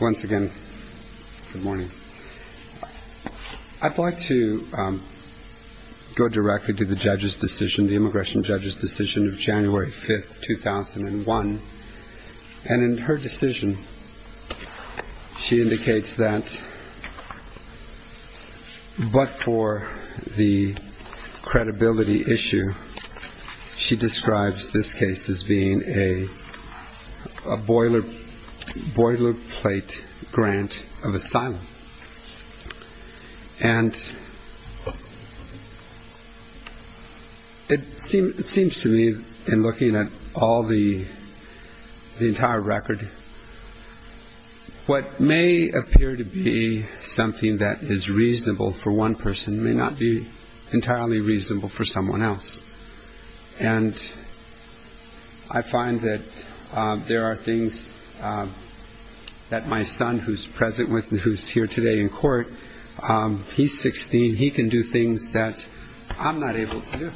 Once again, good morning. I'd like to go directly to the judge's decision, the immigration judge's decision of January 5th, 2001. And in her decision, she indicates that but for the credibility issue, she describes this case as being a boilerplate grant of asylum. And it seems to me in looking at all the entire record, what may appear to be something that is reasonable for one person may not be entirely reasonable for someone else. And I find that there are things that my son who's present with me, who's here today in court, he's 16, he can do things that I'm not able to do.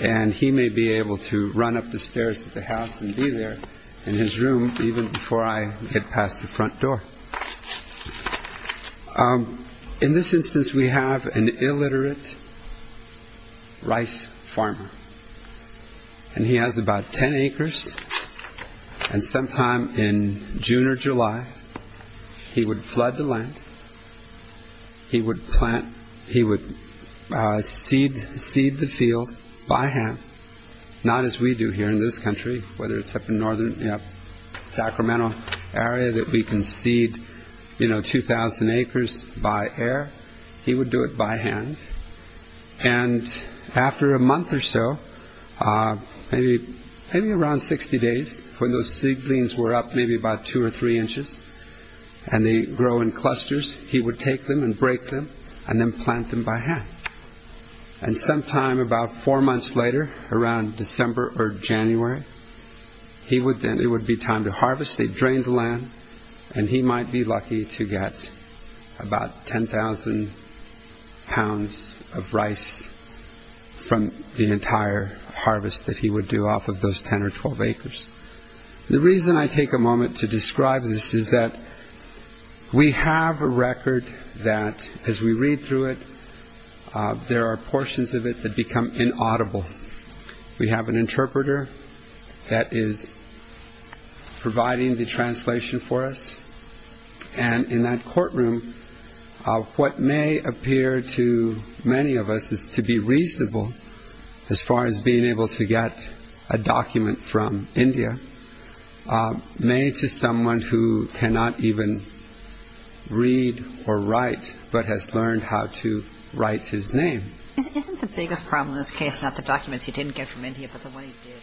And he may be able to run up the stairs to the house and be there in his room even before I get past the front door. In this instance, we have an illiterate rice farmer. And he has about 10 acres. And sometime in June or July, he would flood the land. He would seed the field by hand, not as we do here in this country, whether it's up in northern Sacramento area that we can seed 2,000 acres by air. He would do it by hand. And after a month or so, maybe around 60 days when those seedlings were up maybe about two or three inches and they grow in clusters, he would take them and break them and then plant them by hand. And sometime about four or January, it would be time to harvest. They'd drain the land. And he might be lucky to get about 10,000 pounds of rice from the entire harvest that he would do off of those 10 or 12 acres. The reason I take a moment to describe this is that we have a record that as we read through it, there are portions of it that become inaudible. We have an interpreter that is providing the translation for us. And in that courtroom, what may appear to many of us is to be reasonable as far as being able to get a document from India made to someone who cannot even read or write, but has learned how to write his name. Isn't the biggest problem in this case not the documents you didn't get from India, but the one you did?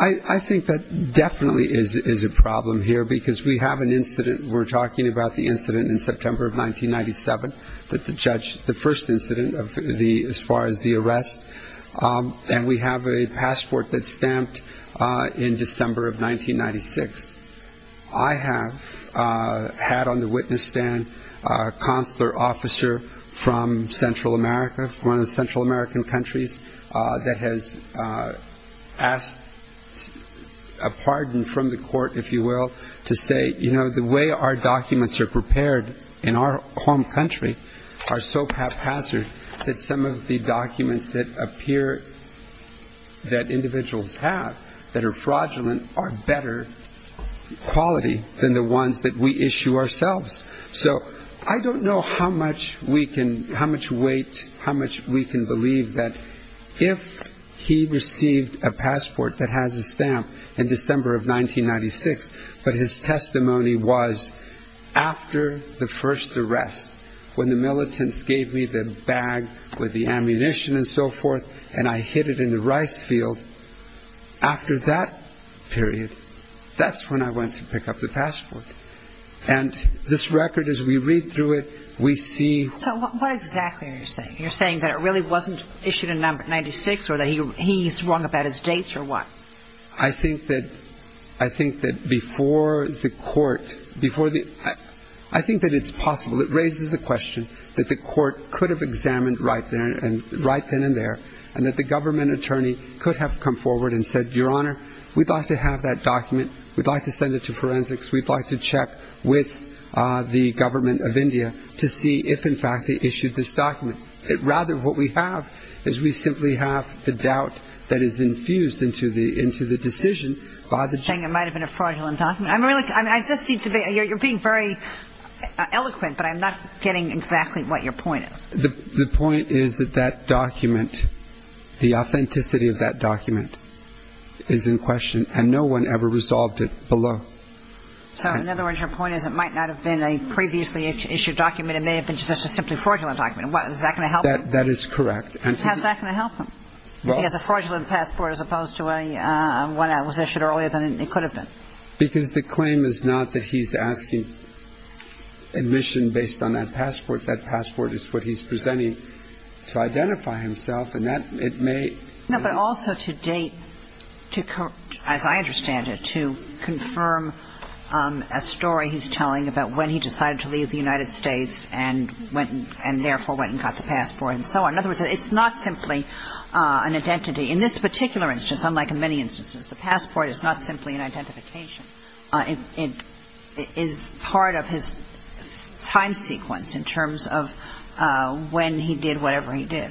I think that definitely is a problem here because we have an incident. We're talking about the incident in September of 1997, the first incident as far as the arrest. And we have a passport that's stamped in December of 1996. I have had on the witness stand a consular officer from Central America, one of the Central American countries, that has asked a pardon from the court, if you will, to say, you know, the way our documents are in our home country are so haphazard that some of the documents that appear that individuals have that are fraudulent are better quality than the ones that we issue ourselves. So I don't know how much we can, how much weight, how much we can believe that if he received a passport that has a stamp in December of 1996, but his testimony was after the first arrest, when the militants gave me the bag with the ammunition and so forth, and I hid it in the rice field, after that period, that's when I went to pick up the passport. And this record, as we read through it, we see... So what exactly are you saying? You're saying that it really wasn't issued in 1996 or that he's wrong about his dates or what? I think that before the court, before the... I think that it's possible, it raises a question that the court could have examined right then and there, and that the government attorney could have come forward and said, Your Honor, we'd like to have that document, we'd like to send it to forensics, we'd like to check with the government of India to see if, in fact, they issued this document. Rather, what we have is we simply have the doubt that is infused into the decision by the... You're saying it might have been a fraudulent document? I just need to be... You're being very eloquent, but I'm not getting exactly what your point is. The point is that that document, the authenticity of that document is in question, and no one ever resolved it below. So, in other words, your point is it might not have been a previously issued document, it may have been just a simply fraudulent document. Is that going to help him? That is correct. How's that going to help him? If he has a fraudulent passport as opposed to one that was issued earlier than it could have been? Because the claim is not that he's asking admission based on that passport. That passport is what he's presenting to identify himself, and that, it may... No, but also to date, as I understand it, to confirm a story he's telling about when he decided to leave the United States and therefore went and got the passport, and so on. In other words, it's not simply an identity. In this particular instance, unlike in many instances, the passport is not simply an identification. It is part of his time sequence in terms of when he did whatever he did.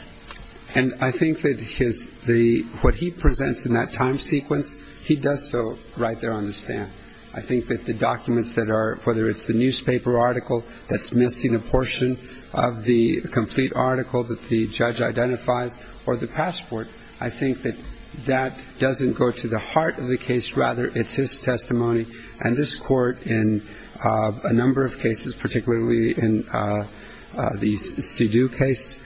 And I think that what he presents in that time sequence, he does so right there on the documents that are, whether it's the newspaper article that's missing a portion of the complete article that the judge identifies, or the passport. I think that that doesn't go to the heart of the case. Rather, it's his testimony. And this Court, in a number of cases, particularly in the Sidhu case,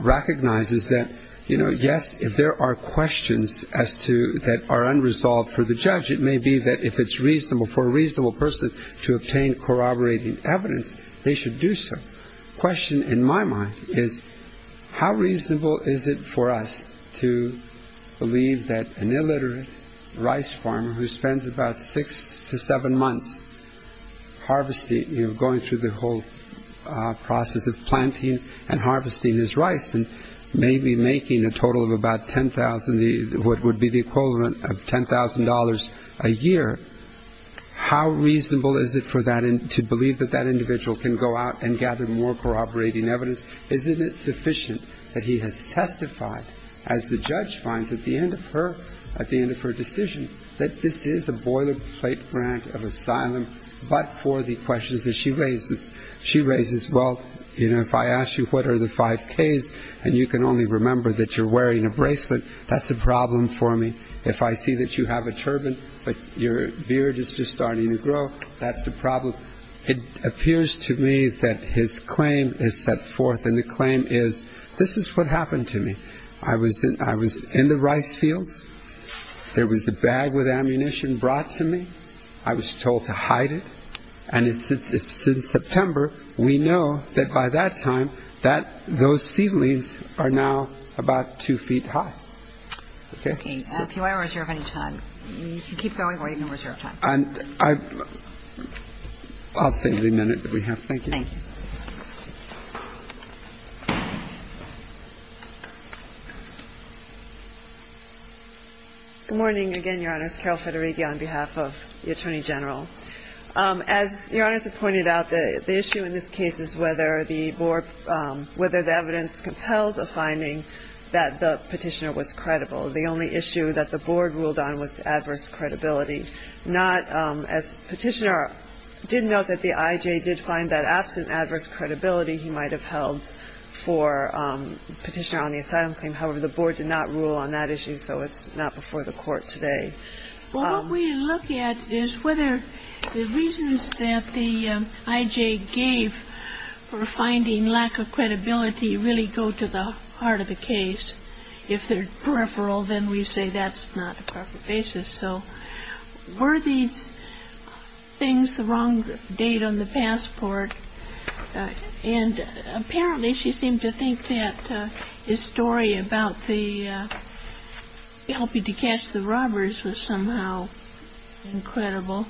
recognizes that, yes, if there are questions that are unresolved for the judge, it may be that if it's reasonable, for a reasonable person to obtain corroborating evidence, they should do so. The question, in my mind, is how reasonable is it for us to believe that an illiterate rice farmer who spends about six to seven months going through the whole process of planting and harvesting his rice, and maybe making a total of about $10,000, what would be the equivalent of $10,000 a year, how reasonable is it to believe that that individual can go out and gather more corroborating evidence? Isn't it sufficient that he has testified, as the judge finds at the end of her decision, that this is a boilerplate grant of asylum, but for the questions that she raises. She raises, well, you know, if I ask you what are the five Ks, and you can only remember that you're wearing a bracelet, that's a problem for me. If I see that you have a turban, but your beard is just starting to grow, that's a problem. It appears to me that his claim is set forth, and the claim is, this is what happened to me. I was in the rice fields. There was a bag with ammunition brought to me. I was told to hide it. And it's in September, we know that by that time, that those seedlings are now about two feet high. Okay. Okay. If you want to reserve any time, you can keep going or you can reserve time. I'll save the minute that we have. Thank you. Thank you. Good morning again, Your Honors. Carol Federighi on behalf of the Attorney General. As Your Honors have pointed out, the issue in this case is whether the board, whether the evidence compels a finding that the Petitioner was credible. The only issue that the board ruled on was adverse credibility, not as Petitioner did note that the IJ did find that absent adverse credibility, he might have held for Petitioner on the asylum claim. However, the board did not rule on that issue, so it's not before the Court today. Well, what we look at is whether the reasons that the IJ gave for finding lack of credibility really go to the heart of the case. If they're peripheral, then we say that's not a proper basis. So were these things the wrong date on the passport? And apparently she seemed to think that his story about helping to catch the robbers was somehow incredible.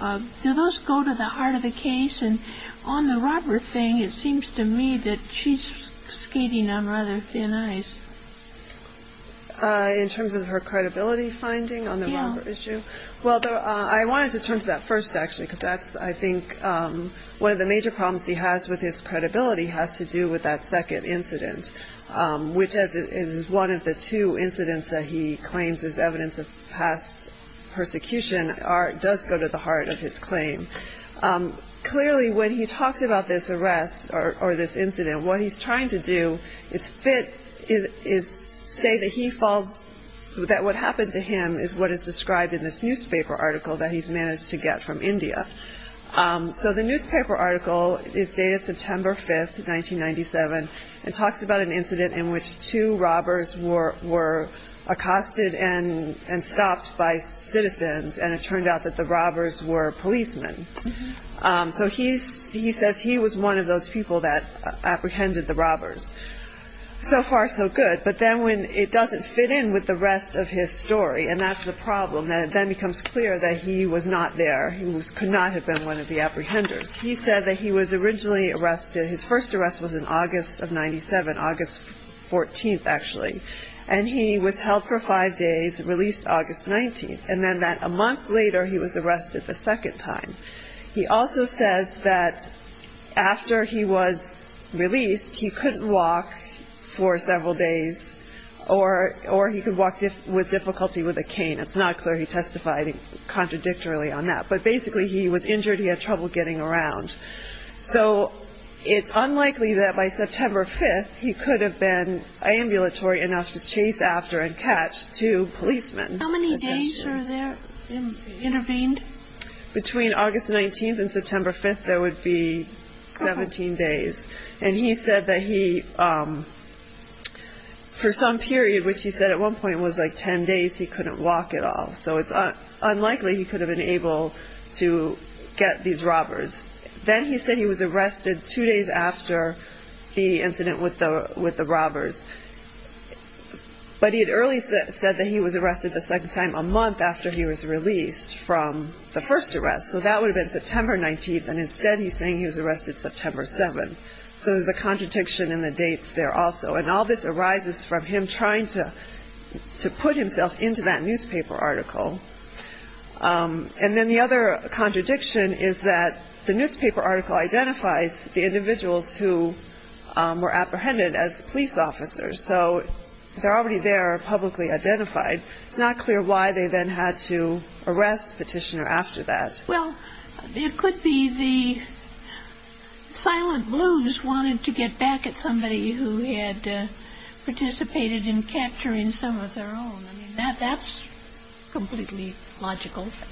Do those go to the heart of the case? And on the robber thing, it seems to me that she's skating on rather thin ice. In terms of her credibility finding on the issue? Well, I wanted to turn to that first, actually, because that's, I think, one of the major problems he has with his credibility has to do with that second incident, which is one of the two incidents that he claims is evidence of past persecution does go to the heart of his claim. Clearly, when he talks about this arrest or this incident, what he's trying to do is say that what happened to him is what is described in this newspaper article that he's managed to get from India. So the newspaper article is dated September 5th, 1997, and talks about an incident in which two robbers were accosted and stopped by citizens, and it turned out that the robbers were policemen. So he says he was one of those people that apprehended the robbers. So far, so good, but then when it doesn't fit in with the rest of his story, and that's the problem, then it becomes clear that he was not there. He could not have been one of the apprehenders. He said that he was originally arrested, his first arrest was in August of 97, August 14th, actually, and he was held for five days, released August 19th, and then that a month later, he was arrested the second time. He also says that after he was released, he couldn't walk for several days, or he could walk with difficulty with a cane. It's not clear he testified contradictorily on that, but basically he was injured, he had trouble getting around. So it's unlikely that by September 5th, he could have been ambulatory enough to chase after and catch two policemen. How many days were there intervened? Between August 19th and September 5th, there would be 17 days, and he said that he, for some period, which he said at one point was like unlikely, he could have been able to get these robbers. Then he said he was arrested two days after the incident with the robbers, but he had earlier said that he was arrested the second time a month after he was released from the first arrest, so that would have been September 19th, and instead he's saying he was arrested September 7th. So there's a contradiction in the dates there also, and all this arises from him trying to put himself into that newspaper article. And then the other contradiction is that the newspaper article identifies the individuals who were apprehended as police officers, so they're already there publicly identified. It's not clear why they then had to arrest Petitioner after that. Well, it could be the silent blues wanted to get back at somebody who had participated in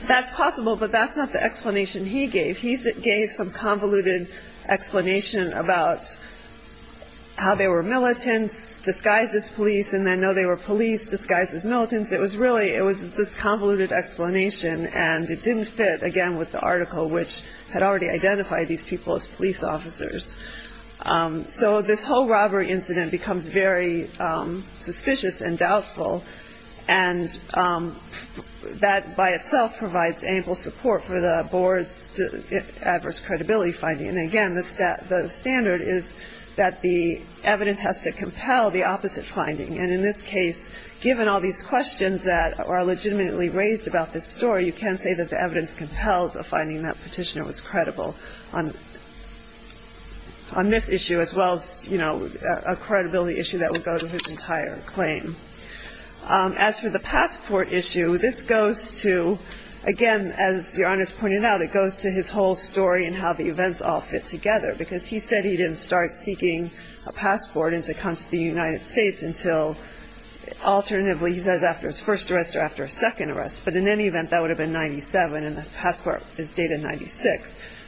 That's possible, but that's not the explanation he gave. He gave some convoluted explanation about how they were militants disguised as police, and then know they were police disguised as militants. It was really, it was this convoluted explanation, and it didn't fit, again, with the article which had already identified these people as police officers. So this whole robbery incident becomes very suspicious and doubtful, and that by itself provides ample support for the board's adverse credibility finding. And again, the standard is that the evidence has to compel the opposite finding, and in this case, given all these questions that are legitimately raised about this story, you can't say that the evidence compels a finding that Petitioner was credible on this issue as well as, you know, a credibility issue that would go to his entire claim. As for the passport issue, this goes to, again, as Your Honor's pointed out, it goes to his whole story and how the events all fit together, because he said he didn't start seeking a passport and to come to the United States until, alternatively, he says after his first arrest or after a second arrest.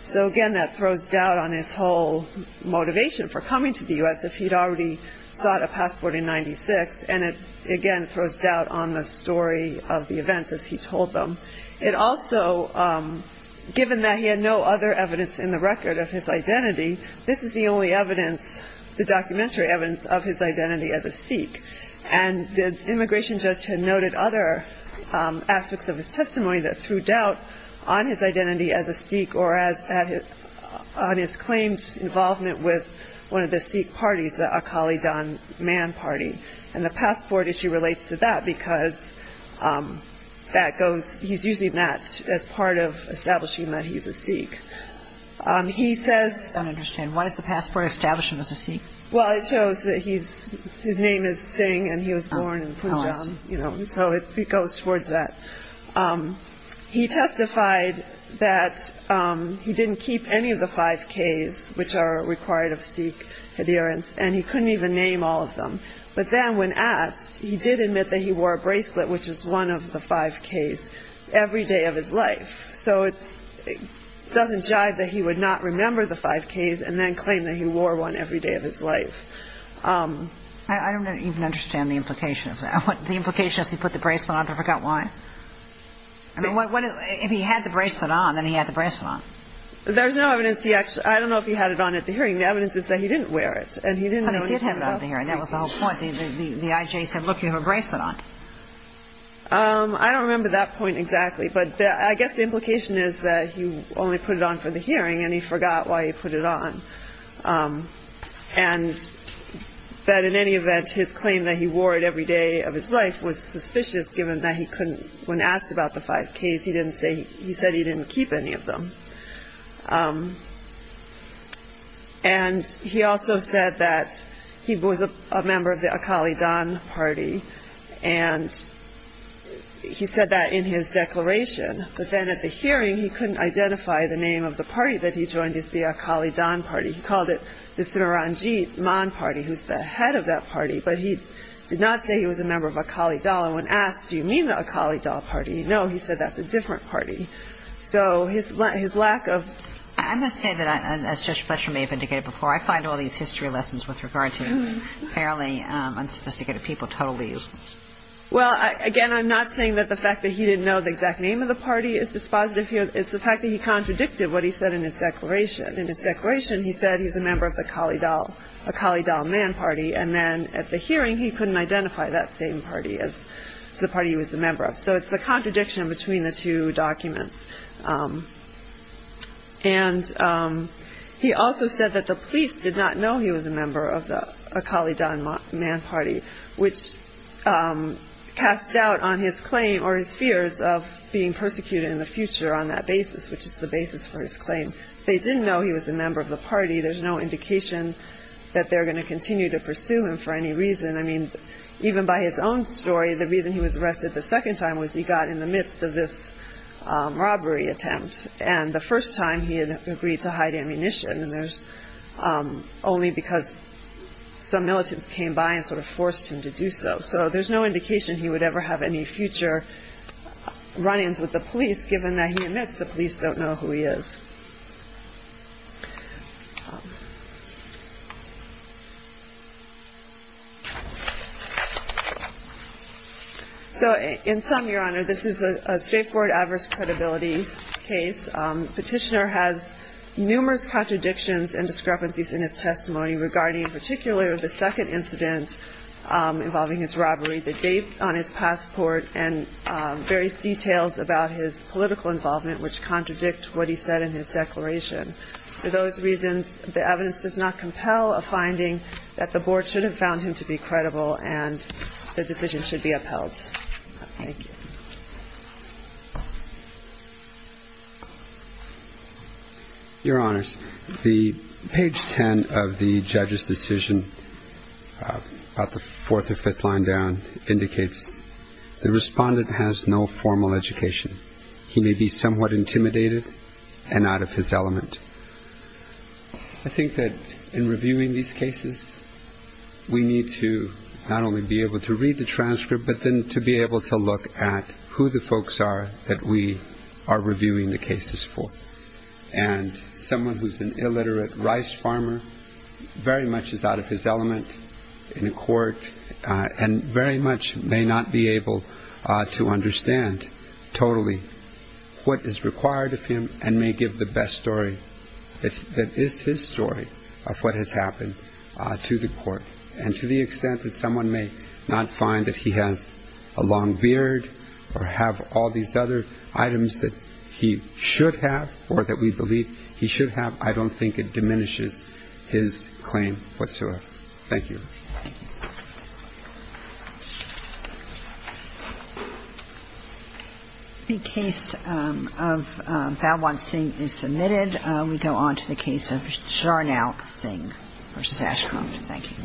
So again, that throws doubt on his whole motivation for coming to the U.S. if he'd already sought a passport in 1996, and it, again, throws doubt on the story of the events as he told them. It also, given that he had no other evidence in the record of his identity, this is the only evidence, the documentary evidence, of his identity as a Sikh. And the immigration judge had noted other aspects of his testimony that threw doubt on his identity as a Sikh or as, on his claims involvement with one of the Sikh parties, the Akali Dhan Man Party. And the passport issue relates to that because that goes, he's using that as part of establishing that he's a Sikh. He says... I don't understand. Why does the passport establish him as a Sikh? Well, it shows that he's, his name is Singh and he was born in Punjab, you know, so it goes towards that. He testified that he didn't keep any of the 5Ks, which are required of Sikh adherents, and he couldn't even name all of them. But then when asked, he did admit that he wore a bracelet, which is one of the 5Ks, every day of his life. So it doesn't jive that he would not remember the 5Ks and then claim that he wore one every day of his life. I don't even understand the implication of that. The implication is he put the bracelet on but forgot why? I mean, if he had the bracelet on, then he had the bracelet on. There's no evidence he actually, I don't know if he had it on at the hearing. The evidence is that he didn't wear it. But he did have it on at the hearing, that was the whole point. The IJ said, look, you have a bracelet on. I don't remember that point exactly, but I guess the implication is that he only put it on for the hearing and he forgot why he put it on. And that in any event, his claim that he wore it every day of his life was suspicious given that he couldn't, when asked about the 5Ks, he said he didn't keep any of them. And he also said that he was a member of the Akali Dhan Party, and he said that in his declaration. But then at the hearing, he couldn't identify the name of the party that he joined, it's the Akali Dhan Party. He called it the Smaranjit Man Party, who's the head of that party. But he did not say he was a member of Akali Dhal. And when asked, do you mean the Akali Dhal Party? No, he said that's a different party. So his lack of... I must say that, as Judge Fletcher may have indicated before, I find all these history lessons with regard to fairly unsophisticated people totally... Well, again, I'm not saying that the fact that he didn't know the exact name of the party is dispositive here. It's the fact that he contradicted what he said in his declaration. In his declaration, he said he's a member of the Akali Dhal Man Party. And then at the hearing, he couldn't identify that same party as the party he was a member of. So it's the contradiction between the two documents. And he also said that the police did not know he was a member of the Akali Dhan Man Party, which casts doubt on his claim or his fears of being persecuted in the future on that basis, which is the basis for his claim. They didn't know he was a member of the party. There's no indication that they're going to continue to pursue him for any reason. I mean, even by his own story, the reason he was arrested the second time was he got in the midst of this robbery attempt. And the first time he had agreed to hide ammunition. And there's only because some militants came by and sort of forced him to do so. So there's no indication he would ever have any future run-ins with the police, given that he admits the police don't know who he is. So in sum, Your Honor, this is a straightforward adverse credibility case. Petitioner has numerous contradictions and discrepancies in his testimony regarding, in particular, the second incident involving his robbery, the date on his passport, and various details about his political involvement, which contradict what he said in his declaration. For those reasons, the evidence does not compel a finding that the board should have found him to be credible and the decision should be upheld. Thank you. Your Honors, the page 10 of the judge's decision, about the fourth or fifth line down, indicates the respondent has no formal education. He may be somewhat intimidated and out of his element. I think that in reviewing these cases, we need to not only be able to read the transcript, but then to be able to look at who the folks are that we are reviewing the cases for. And someone who's an illiterate rice farmer very much is out of his element in a court and very much may not be able to understand totally what is required of him and may give the best story that is his story of what has happened to the court. And to the extent that someone may not find that he has a long beard or have all these other items that he should have or that we believe he should have, I don't think it diminishes his claim whatsoever. Thank you. The case of Balwant Singh is submitted. We go on to the case of Sharnal Singh v. Ashcomb. Thank you.